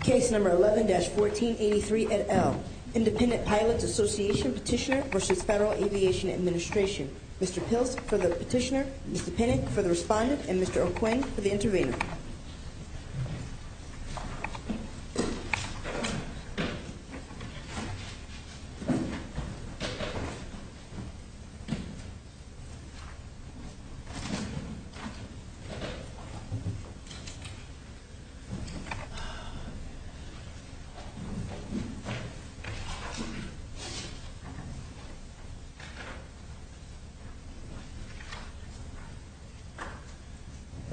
Case number 11-1483 et al. Independent Pilots Association petitioner versus Federal Aviation Administration. Mr. Pills for the petitioner, Mr. Pinnock for the respondent, and Mr. O'Quinn for the intervener.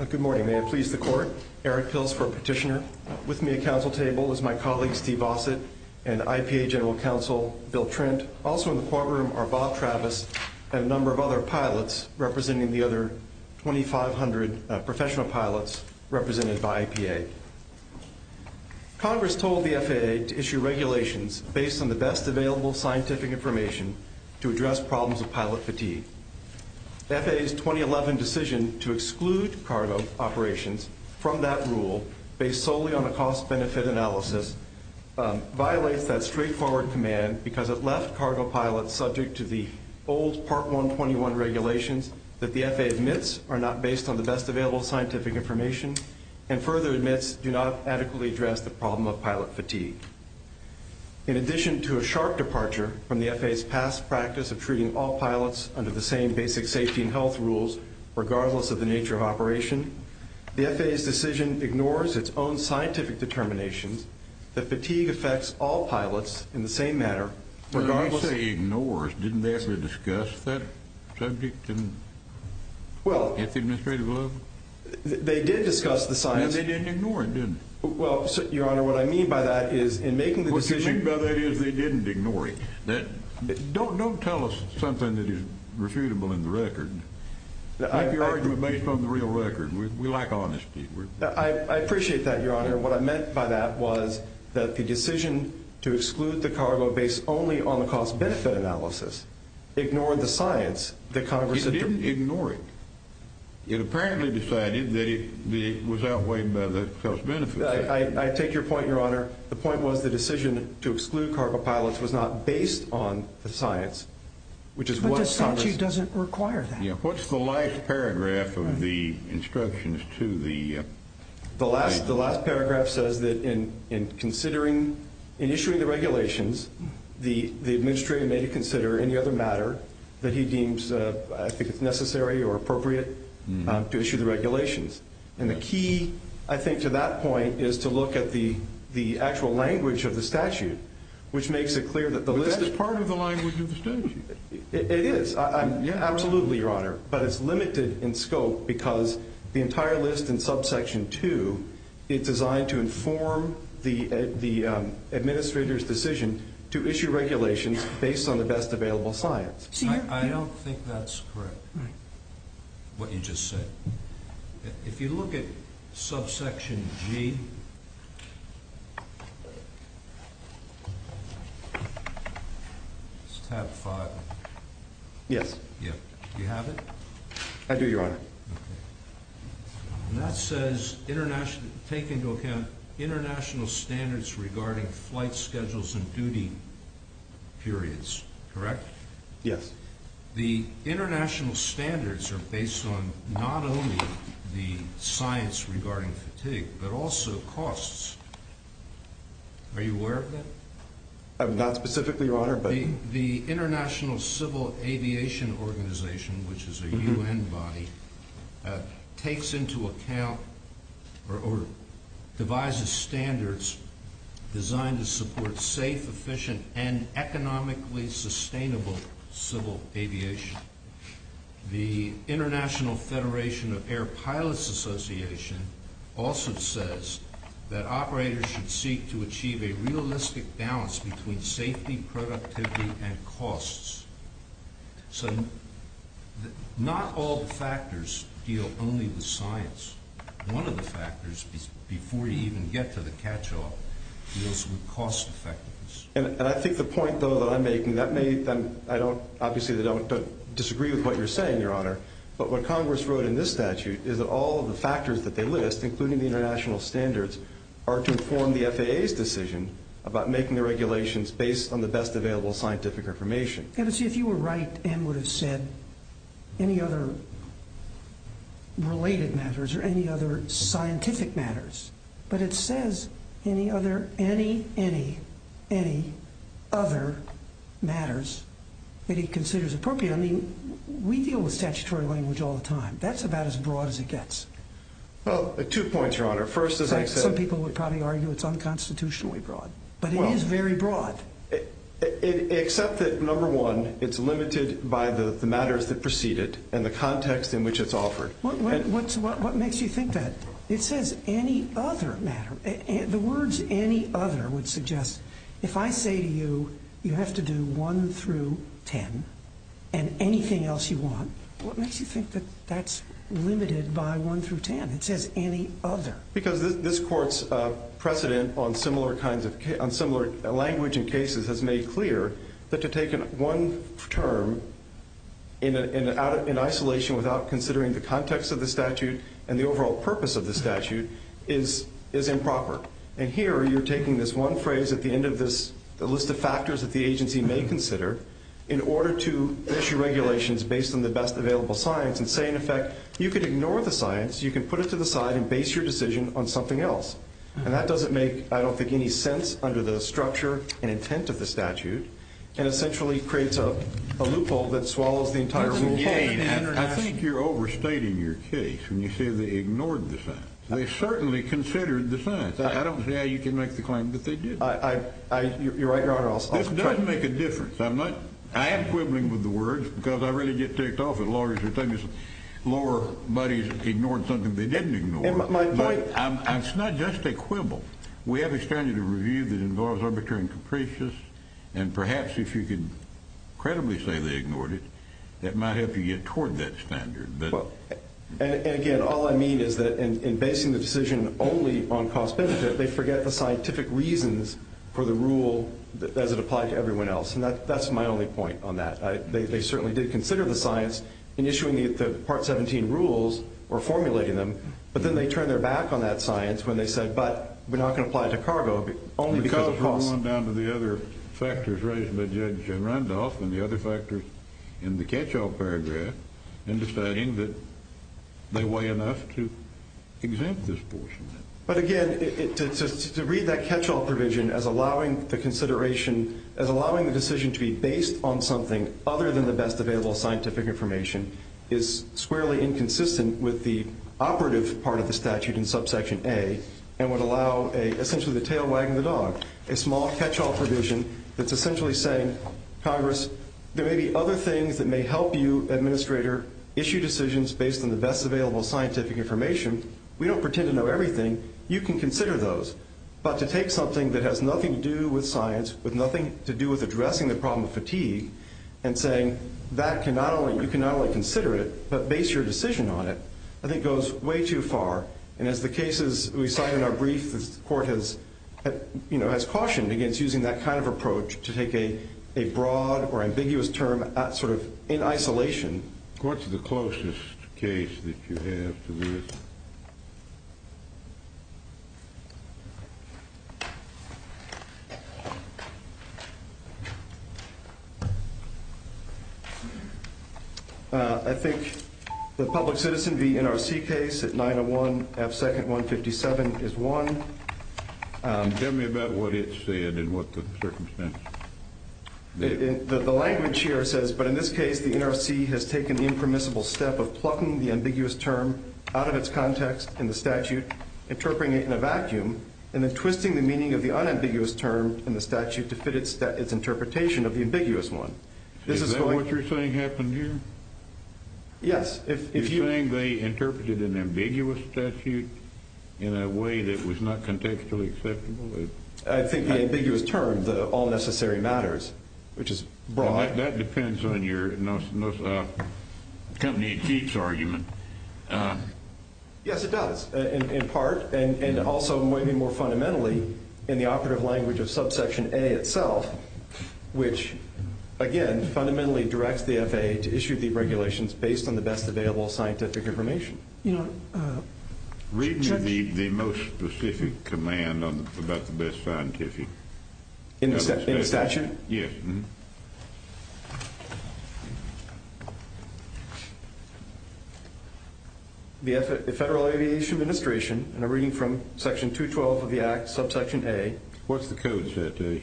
Good morning. May it please the court, Eric Pills for petitioner. With me at council table is my colleague Steve Vossett and IPA General Counsel Bill Trent. Also in the courtroom are Bob Travis and a number of other pilots representing the other 2,500 professional pilots represented by the FAA. Congress told the FAA to issue regulations based on the best available scientific information to address problems of pilot fatigue. The FAA's 2011 decision to exclude cargo operations from that rule, based solely on a cost-benefit analysis, violates that straightforward command because it left cargo pilots subject to the old Part 121 regulations that the FAA admits are not based on the best available scientific information. And further admits do not adequately address the problem of pilot fatigue. In addition to a sharp departure from the FAA's past practice of treating all pilots under the same basic safety and health rules, regardless of the nature of operation, the FAA's decision ignores its own scientific determinations that fatigue affects all pilots in the same manner, regardless... And they didn't ignore it, did they? Well, Your Honor, what I mean by that is in making the decision... What you mean by that is they didn't ignore it. Don't tell us something that is refutable in the record. Make your argument based on the real record. We lack honesty. I appreciate that, Your Honor. What I meant by that was that the decision to exclude the cargo based only on the cost-benefit analysis ignored the science that Congress... They didn't ignore it. It apparently decided that it was outweighed by the cost-benefit. I take your point, Your Honor. The point was the decision to exclude cargo pilots was not based on the science, which is what Congress... But the statute doesn't require that. Yeah. What's the last paragraph of the instructions to the... The last paragraph says that in issuing the regulations, the administrator may consider any other matter that he deems necessary or appropriate to issue the regulations. And the key, I think, to that point is to look at the actual language of the statute, which makes it clear that the list... But that's part of the language of the statute. It is. Absolutely, Your Honor. But it's limited in scope because the entire list in subsection 2 is designed to inform the administrator's decision to issue regulations based on the best available science. I don't think that's correct, what you just said. If you look at subsection G, it's tab 5. Yes. Yeah. Do you have it? I do, Your Honor. Okay. And that says take into account international standards regarding flight schedules and duty periods, correct? Yes. The international standards are based on not only the science regarding fatigue, but also costs. Are you aware of that? Not specifically, Your Honor, but... The International Civil Aviation Organization, which is a UN body, takes into account or devises standards designed to support safe, efficient, and economically sustainable civil aviation. The International Federation of Air Pilots Association also says that operators should seek to achieve a realistic balance between safety, productivity, and costs. So not all the factors deal only with science. One of the factors, before you even get to the catch-all, deals with cost effectiveness. And I think the point, though, that I'm making, that may... I don't... Obviously, I don't disagree with what you're saying, Your Honor. But what Congress wrote in this statute is that all of the factors that they list, including the international standards, are to inform the FAA's decision about making the regulations based on the best available scientific information. Yeah, but see, if you were right, Ann would have said any other related matters or any other scientific matters. But it says any other... any, any, any other matters that he considers appropriate. I mean, we deal with statutory language all the time. That's about as broad as it gets. Well, two points, Your Honor. First, as I said... Some people would probably argue it's unconstitutionally broad. But it is very broad. Except that, number one, it's limited by the matters that precede it and the context in which it's offered. What makes you think that? It says any other matter. The words any other would suggest, if I say to you, you have to do 1 through 10 and anything else you want, what makes you think that that's limited by 1 through 10? It says any other. Because this court's precedent on similar kinds of... on similar language and cases has made clear that to take one term in isolation without considering the context of the statute and the overall purpose of the statute is improper. And here you're taking this one phrase at the end of this list of factors that the agency may consider in order to issue regulations based on the best available science and say, in effect, you can ignore the science, you can put it to the side and base your decision on something else. And that doesn't make, I don't think, any sense under the structure and intent of the statute and essentially creates a loophole that swallows the entire rule. I think you're overstating your case when you say they ignored the science. They certainly considered the science. I don't see how you can make the claim that they didn't. Your Honor, I'll... This doesn't make a difference. I'm not... I am quibbling with the words because I really get ticked off at lawyers who tell me lower bodies ignored something they didn't ignore. My point... It's not just a quibble. We have a standard of review that involves arbitrary and capricious, and perhaps if you could credibly say they ignored it, that might help you get toward that standard. And again, all I mean is that in basing the decision only on cost-benefit, they forget the scientific reasons for the rule as it applied to everyone else, and that's my only point on that. They certainly did consider the science in issuing the Part 17 rules or formulating them, but then they turned their back on that science when they said, but we're not going to apply it to cargo only because of cost. Because we're going down to the other factors raised by Judge Randolph and the other factors in the catch-all paragraph and deciding that they weigh enough to exempt this portion. But again, to read that catch-all provision as allowing the consideration... As allowing the decision to be based on something other than the best available scientific information is squarely inconsistent with the operative part of the statute in subsection A, and would allow essentially the tail wagging the dog. A small catch-all provision that's essentially saying, Congress, there may be other things that may help you, Administrator, issue decisions based on the best available scientific information. We don't pretend to know everything. You can consider those. But to take something that has nothing to do with science, with nothing to do with addressing the problem of fatigue, and saying that you can not only consider it, but base your decision on it, I think goes way too far. And as the cases we cite in our brief, the court has cautioned against using that kind of approach to take a broad or ambiguous term in isolation. What's the closest case that you have to this? I think the public citizen v. NRC case at 901 F. 2nd 157 is one. Tell me about what it said and what the circumstances. The language here says, but in this case, the NRC has taken the impermissible step of plucking the ambiguous term out of its context in the statute, interpreting it in a vacuum, and then twisting the meaning of the unambiguous term in the statute to fit its interpretation of the ambiguous one. Is that what you're saying happened here? Yes. You're saying they interpreted an ambiguous statute in a way that was not contextually acceptable? I think the ambiguous term, the all necessary matters, which is broad. That depends on your company in chief's argument. Yes, it does, in part, and also maybe more fundamentally in the operative language of subsection A itself, which, again, fundamentally directs the FAA to issue the regulations based on the best available scientific information. Read me the most specific command about the best scientific. In the statute? Yes. The Federal Aviation Administration, in a reading from section 212 of the Act, subsection A. What's the code, Satoshi?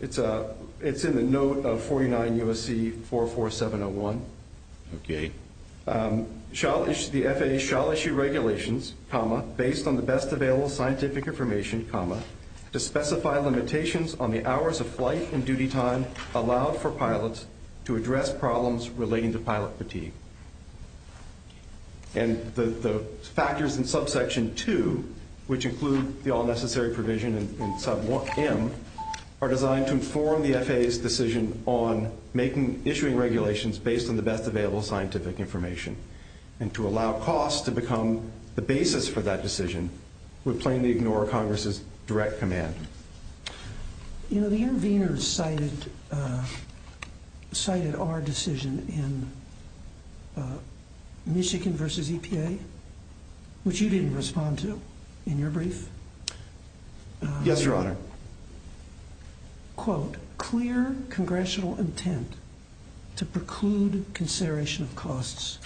It's in the note of 49 U.S.C. 44701. Okay. The FAA shall issue regulations, comma, based on the best available scientific information, comma, to specify limitations on the hours of flight and duty time allowed for pilots to address problems relating to pilot fatigue. And the factors in subsection 2, which include the all necessary provision in sub M, are designed to inform the FAA's decision on issuing regulations based on the best available scientific information. And to allow costs to become the basis for that decision would plainly ignore Congress's direct command. You know, the intervener cited our decision in Michigan v. EPA, which you didn't respond to in your brief. Yes, Your Honor. Quote, clear congressional intent to preclude consideration of costs.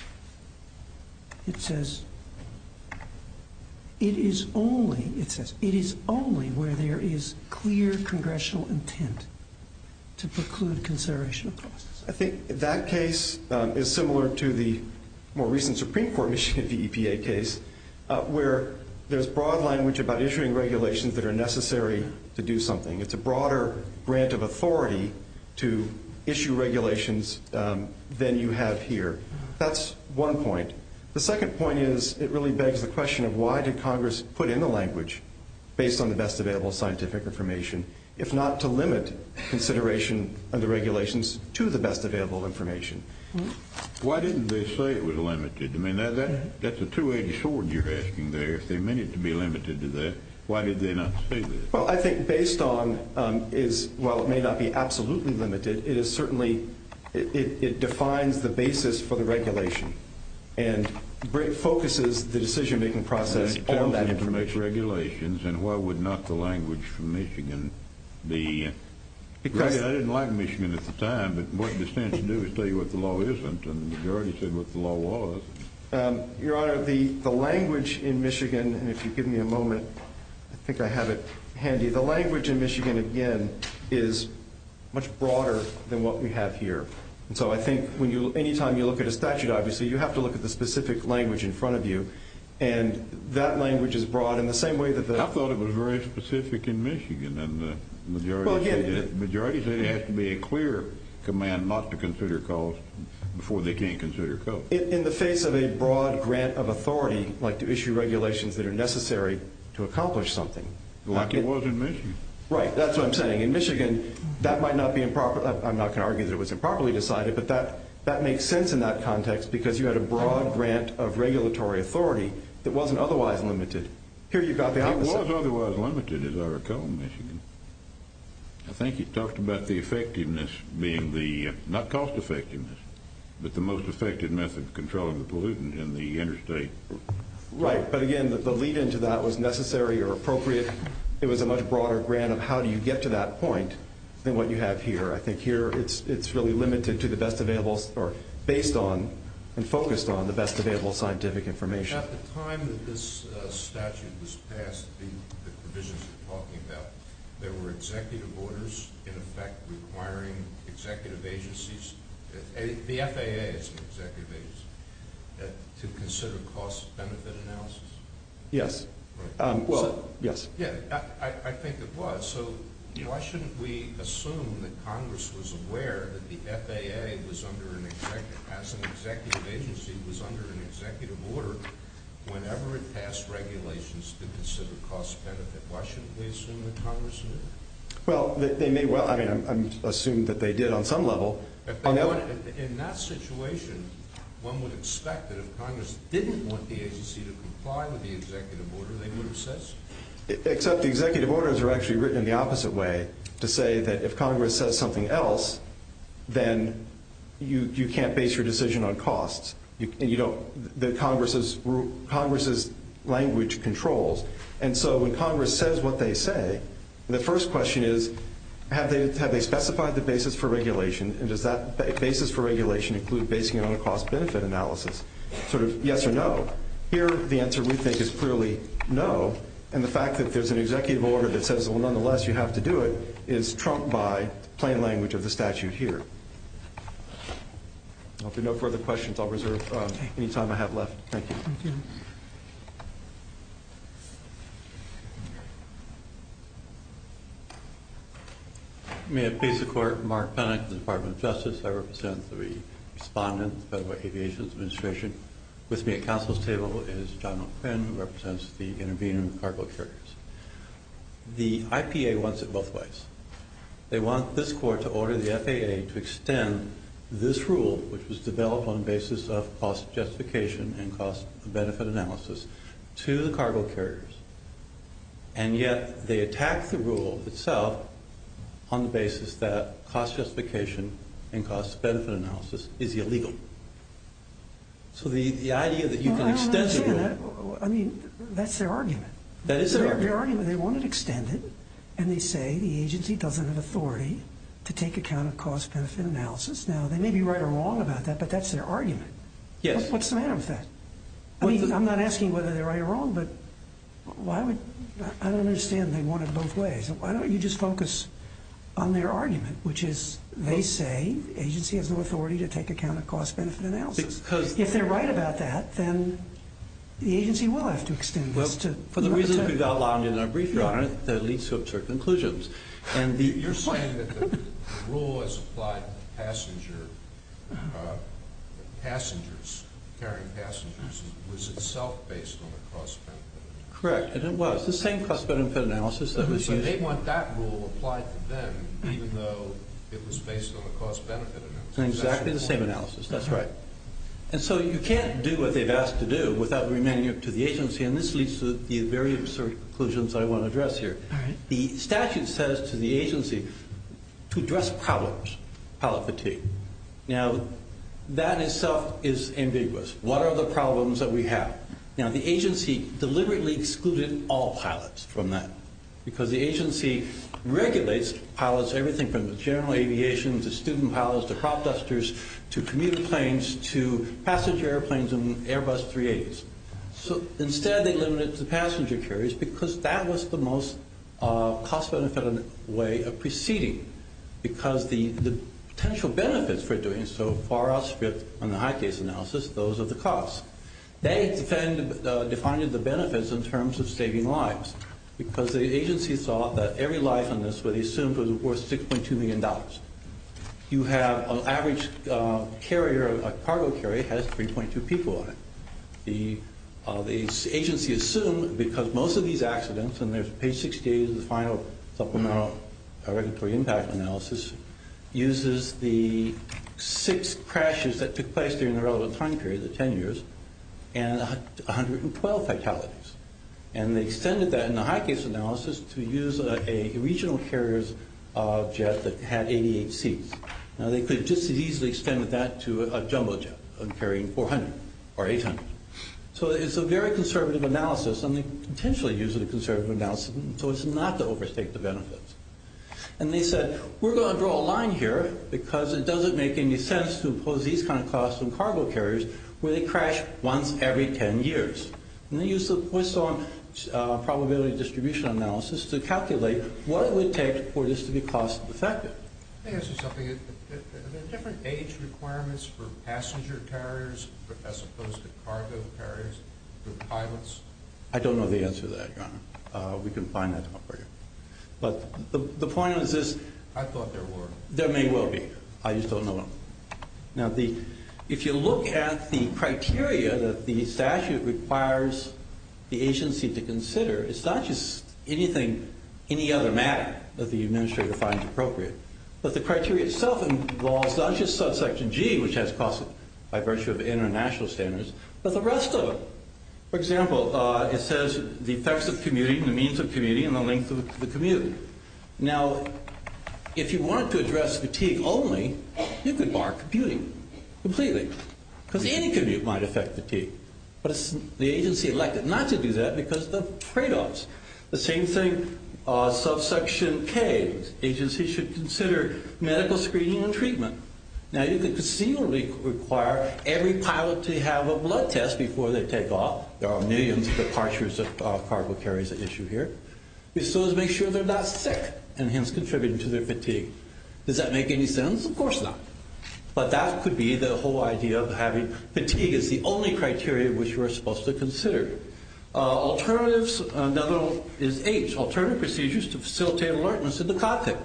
It says, it is only, it says, it is only where there is clear congressional intent to preclude consideration of costs. I think that case is similar to the more recent Supreme Court Michigan v. EPA case, where there's broad language about issuing regulations that are necessary to do something. It's a broader grant of authority to issue regulations than you have here. That's one point. The second point is, it really begs the question of why did Congress put in the language, based on the best available scientific information, if not to limit consideration of the regulations to the best available information? Why didn't they say it was limited? I mean, that's a 280 sword you're asking there. If they meant it to be limited to that, why did they not say that? Well, I think based on is, while it may not be absolutely limited, it is certainly, it defines the basis for the regulation and focuses the decision-making process on that information. And why would not the language from Michigan be, I didn't like Michigan at the time, but what it stands to do is tell you what the law isn't, and the majority said what the law was. Your Honor, the language in Michigan, and if you give me a moment, I think I have it handy. The language in Michigan, again, is much broader than what we have here. And so I think any time you look at a statute, obviously, you have to look at the specific language in front of you, and that language is broad in the same way that the— I thought it was very specific in Michigan, and the majority said it has to be a clear command not to consider cost before they can't consider cost. In the face of a broad grant of authority, like to issue regulations that are necessary to accomplish something— Like it was in Michigan. Right, that's what I'm saying. In Michigan, that might not be improper—I'm not going to argue that it was improperly decided, but that makes sense in that context because you had a broad grant of regulatory authority that wasn't otherwise limited. It was otherwise limited, as I recall, in Michigan. I think you talked about the effectiveness being the—not cost effectiveness, but the most effective method of controlling the pollutant in the interstate. Right, but again, the lead-in to that was necessary or appropriate. It was a much broader grant of how do you get to that point than what you have here. I think here, it's really limited to the best available—or based on and focused on the best available scientific information. At the time that this statute was passed, the provisions you're talking about, there were executive orders in effect requiring executive agencies—the FAA is an executive agency—to consider cost-benefit analysis. Yes. Well— Yes. I think it was, so why shouldn't we assume that Congress was aware that the FAA, as an executive agency, was under an executive order whenever it passed regulations to consider cost-benefit? Why shouldn't we assume that Congress knew? Well, they may—I mean, I'm assuming that they did on some level. In that situation, one would expect that if Congress didn't want the agency to comply with the executive order, they would have said so. Except the executive orders are actually written in the opposite way, to say that if Congress says something else, then you can't base your decision on costs. Congress's language controls. And so when Congress says what they say, the first question is, have they specified the basis for regulation, and does that basis for regulation include basing it on a cost-benefit analysis? Sort of yes or no. Here, the answer we think is clearly no, and the fact that there's an executive order that says, well, nonetheless, you have to do it, is trumped by plain language of the statute here. If there are no further questions, I'll reserve any time I have left. Thank you. Thank you. May it please the Court, Mark Penick, Department of Justice. I represent the respondent, the Federal Aviation Administration. With me at counsel's table is John O'Quinn, who represents the intervening cargo carriers. The IPA wants it both ways. They want this Court to order the FAA to extend this rule, which was developed on the basis of cost justification and cost-benefit analysis, to the cargo carriers. And yet they attack the rule itself on the basis that cost justification and cost-benefit analysis is illegal. So the idea that you can extend the rule... Well, I don't understand that. I mean, that's their argument. That is their argument. Their argument, they want it extended, and they say the agency doesn't have authority to take account of cost-benefit analysis. Now, they may be right or wrong about that, but that's their argument. Yes. What's the matter with that? I mean, I'm not asking whether they're right or wrong, but I don't understand they want it both ways. Why don't you just focus on their argument, which is they say the agency has no authority to take account of cost-benefit analysis. Because... If they're right about that, then the agency will have to extend this to... Well, for the reasons we've outlined in our brief, Your Honor, that leads to absurd conclusions. You're saying that the rule as applied to passengers, carrying passengers, was itself based on the cost-benefit analysis. Correct, and it was. The same cost-benefit analysis that was used... So they want that rule applied to them, even though it was based on the cost-benefit analysis. Exactly the same analysis. That's right. And so you can't do what they've asked to do without remaining up to the agency, and this leads to the very absurd conclusions I want to address here. All right. The statute says to the agency to address problems, pilot fatigue. Now, that in itself is ambiguous. What are the problems that we have? Now, the agency deliberately excluded all pilots from that because the agency regulates pilots, everything from general aviation to student pilots to crop dusters to commuter planes to passenger airplanes and Airbus 380s. So instead they limited it to passenger carriers because that was the most cost-benefit way of proceeding because the potential benefits for doing so far outstripped, in the high-case analysis, those of the cost. They defined the benefits in terms of saving lives because the agency thought that every life on this would be assumed to be worth $6.2 million. You have an average carrier, a cargo carrier, has 3.2 people on it. The agency assumed because most of these accidents, and there's page 68 of the final supplemental regulatory impact analysis, uses the six crashes that took place during the relevant time period, the 10 years, and 112 fatalities. And they extended that in the high-case analysis to use a regional carrier's jet that had 88 seats. Now, they could have just as easily extended that to a jumbo jet carrying 400 or 800. So it's a very conservative analysis, and they potentially use it as a conservative analysis so as not to overstate the benefits. And they said, we're going to draw a line here because it doesn't make any sense to impose these kinds of costs on cargo carriers where they crash once every 10 years. And they used the Poisson probability distribution analysis to calculate what it would take for this to be cost-effective. Let me ask you something. Are there different age requirements for passenger carriers as opposed to cargo carriers for pilots? I don't know the answer to that, Your Honor. We can find that out for you. But the point is this. I thought there were. There may well be. I just don't know. Now, if you look at the criteria that the statute requires the agency to consider, it's not just any other matter that the administrator finds appropriate. But the criteria itself involves not just subsection G, which has costs by virtue of international standards, but the rest of it. For example, it says the effects of commuting, the means of commuting, and the length of the commute. Now, if you wanted to address fatigue only, you could bar commuting completely because any commute might affect fatigue. But it's the agency elected not to do that because of the tradeoffs. The same thing, subsection K, agency should consider medical screening and treatment. Now, you can conceivably require every pilot to have a blood test before they take off. There are millions of departures of cargo carriers at issue here. You still have to make sure they're not sick, and hence contributing to their fatigue. Does that make any sense? Of course not. But that could be the whole idea of having fatigue as the only criteria which we're supposed to consider. Alternatives, another is H, alternative procedures to facilitate alertness in the cockpit.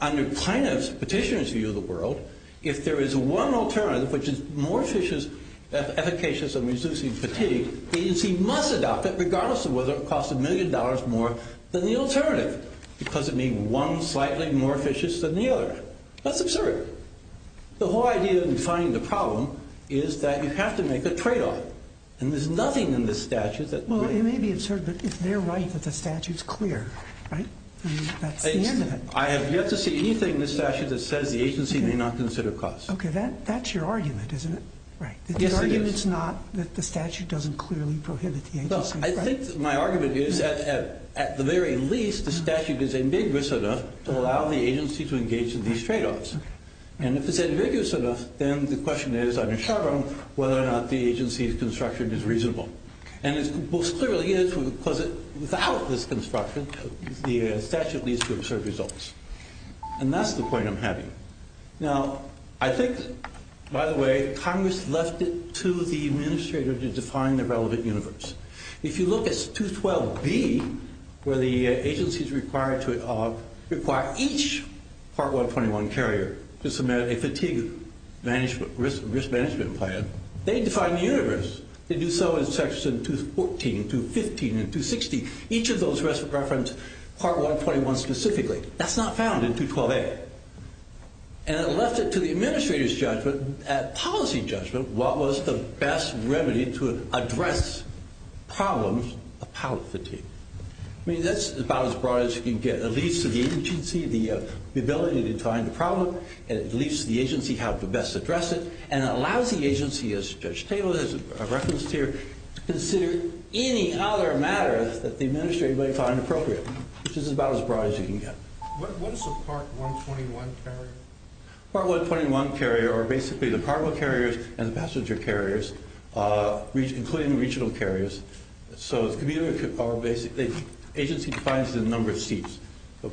Under plaintiff's, petitioner's view of the world, if there is one alternative which is more efficacious in reducing fatigue, the agency must adopt it regardless of whether it costs a million dollars more than the alternative because it means one is slightly more efficacious than the other. That's absurd. The whole idea in finding the problem is that you have to make a tradeoff. And there's nothing in this statute that... Well, it may be absurd, but if they're right that the statute's clear, right? That's the end of it. I have yet to see anything in this statute that says the agency may not consider costs. Okay, that's your argument, isn't it? Right. The argument's not that the statute doesn't clearly prohibit the agency, right? I think that my argument is that at the very least, the statute is ambiguous enough to allow the agency to engage in these tradeoffs. And if it's ambiguous enough, then the question is, on its own, whether or not the agency's construction is reasonable. And it most clearly is because without this construction, the statute leads to absurd results. Now, I think, by the way, Congress left it to the administrator to define the relevant universe. If you look at 212B, where the agency's required to require each Part 121 carrier to submit a fatigue risk management plan, they define the universe. They do so in Section 214, 215, and 260. Each of those reference Part 121 specifically. That's not found in 212A. And it left it to the administrator's judgment, policy judgment, what was the best remedy to address problems of pallet fatigue. I mean, that's about as broad as you can get. It leads to the agency, the ability to define the problem, and it leads to the agency how to best address it, and it allows the agency, as Judge Taylor has referenced here, to consider any other matters that the administrator may find appropriate, which is about as broad as you can get. What is a Part 121 carrier? Part 121 carrier are basically the cargo carriers and the passenger carriers, including regional carriers. So it's commuter or basically agency defines the number of seats.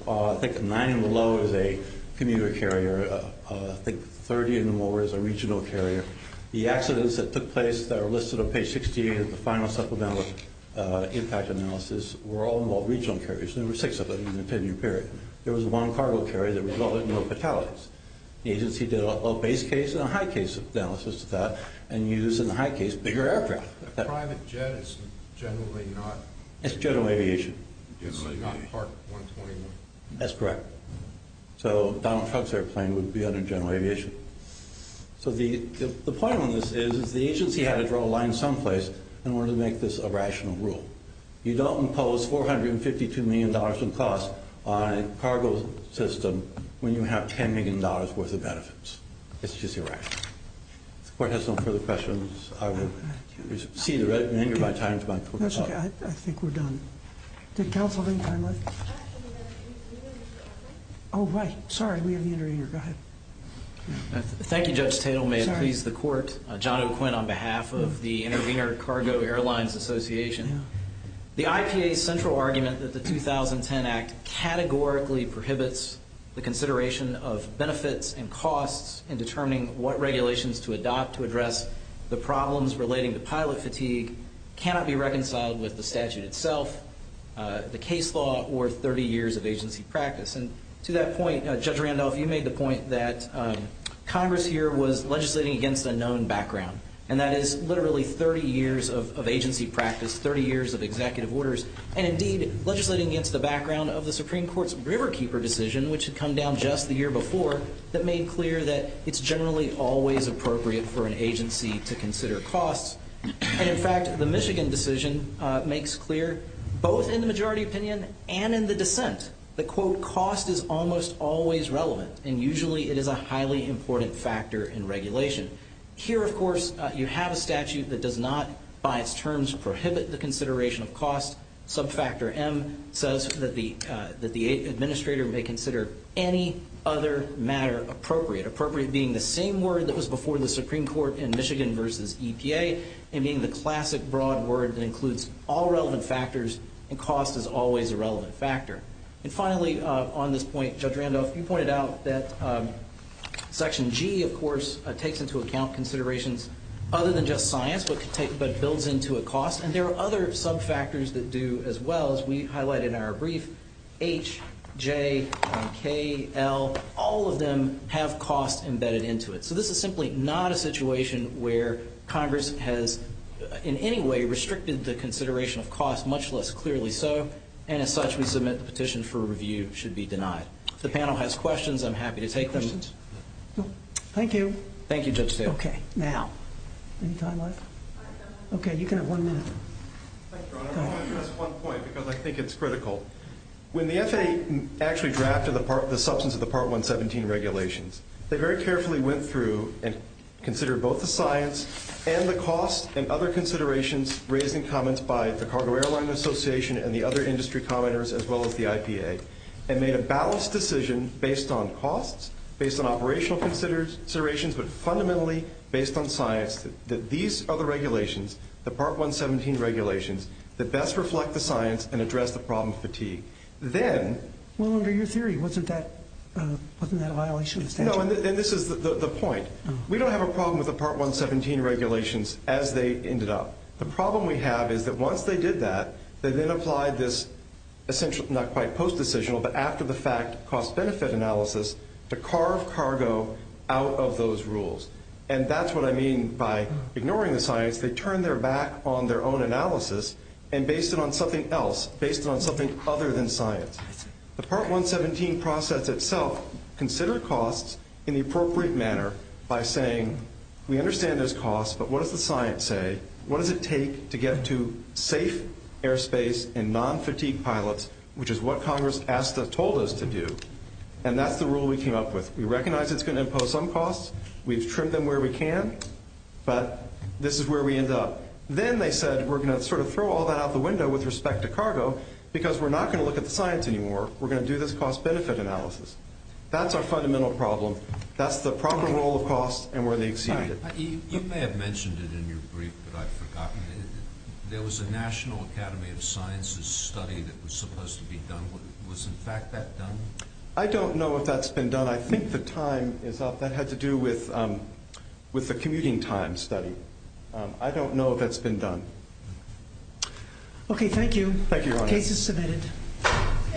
I think nine and below is a commuter carrier. I think 30 and more is a regional carrier. The accidents that took place that are listed on page 16 of the final supplemental impact analysis were all regional carriers. There were six of them in the 10-year period. There was one cargo carrier that resulted in no fatalities. The agency did a low-base case and a high-case analysis of that and used, in the high case, bigger aircraft. A private jet is generally not? It's general aviation. It's not Part 121. That's correct. So Donald Trump's airplane would be under general aviation. So the point on this is the agency had to draw a line someplace in order to make this a rational rule. You don't impose $452 million in costs on a cargo system when you have $10 million worth of benefits. It's just irrational. If the court has no further questions, I will see the written menu by time tomorrow. That's okay. I think we're done. Did counsel have any time left? Oh, right. Sorry, we have the interviewer. Go ahead. Thank you, Judge Tatel. May it please the court. John O'Quinn on behalf of the Intervener Cargo Airlines Association. The IPA's central argument that the 2010 Act categorically prohibits the consideration of benefits and costs in determining what regulations to adopt to address the problems relating to pilot fatigue cannot be reconciled with the statute itself, the case law, or 30 years of agency practice. And to that point, Judge Randolph, you made the point that Congress here was legislating against a known background, and that is literally 30 years of agency practice, 30 years of executive orders, and indeed legislating against the background of the Supreme Court's Riverkeeper decision, which had come down just the year before, that made clear that it's generally always appropriate for an agency to consider costs. And in fact, the Michigan decision makes clear, both in the majority opinion and in the dissent, that, quote, cost is almost always relevant, and usually it is a highly important factor in regulation. Here, of course, you have a statute that does not, by its terms, prohibit the consideration of costs. Subfactor M says that the administrator may consider any other matter appropriate, appropriate being the same word that was before the Supreme Court in Michigan versus EPA and being the classic broad word that includes all relevant factors and cost is always a relevant factor. And finally, on this point, Judge Randolph, you pointed out that Section G, of course, takes into account considerations other than just science but builds into a cost, and there are other subfactors that do as well, as we highlight in our brief. H, J, K, L, all of them have cost embedded into it. So this is simply not a situation where Congress has, in any way, restricted the consideration of cost, much less clearly so, and as such we submit the petition for review should be denied. If the panel has questions, I'm happy to take them. Questions? No. Thank you. Thank you, Judge Taylor. Okay. Now. Any time left? Okay, you can have one minute. Thank you, Your Honor. I'm going to address one point because I think it's critical. When the FAA actually drafted the substance of the Part 117 regulations, they very carefully went through and considered both the science and the cost and other considerations, raising comments by the Cargo Airline Association and the other industry commenters as well as the IPA, and made a balanced decision based on costs, based on operational considerations, but fundamentally based on science that these are the regulations, the Part 117 regulations, that best reflect the science and address the problem of fatigue. Well, under your theory, wasn't that a violation of statute? No, and this is the point. We don't have a problem with the Part 117 regulations as they ended up. The problem we have is that once they did that, they then applied this essentially not quite post-decisional but after the fact cost-benefit analysis to carve cargo out of those rules, and that's what I mean by ignoring the science. They turned their back on their own analysis and based it on something else, based it on something other than science. The Part 117 process itself considered costs in the appropriate manner by saying we understand there's costs, but what does the science say? What does it take to get to safe airspace and non-fatigue pilots, which is what Congress asked us, told us to do, and that's the rule we came up with. We recognize it's going to impose some costs. We've trimmed them where we can, but this is where we end up. Then they said we're going to sort of throw all that out the window with respect to cargo because we're not going to look at the science anymore. We're going to do this cost-benefit analysis. That's our fundamental problem. That's the proper role of costs and where they exceeded it. You may have mentioned it in your brief, but I've forgotten. There was a National Academy of Sciences study that was supposed to be done. Was, in fact, that done? I don't know if that's been done. I think the time is up. That had to do with the commuting time study. I don't know if that's been done. Okay, thank you. Thank you, Your Honor. The case is submitted.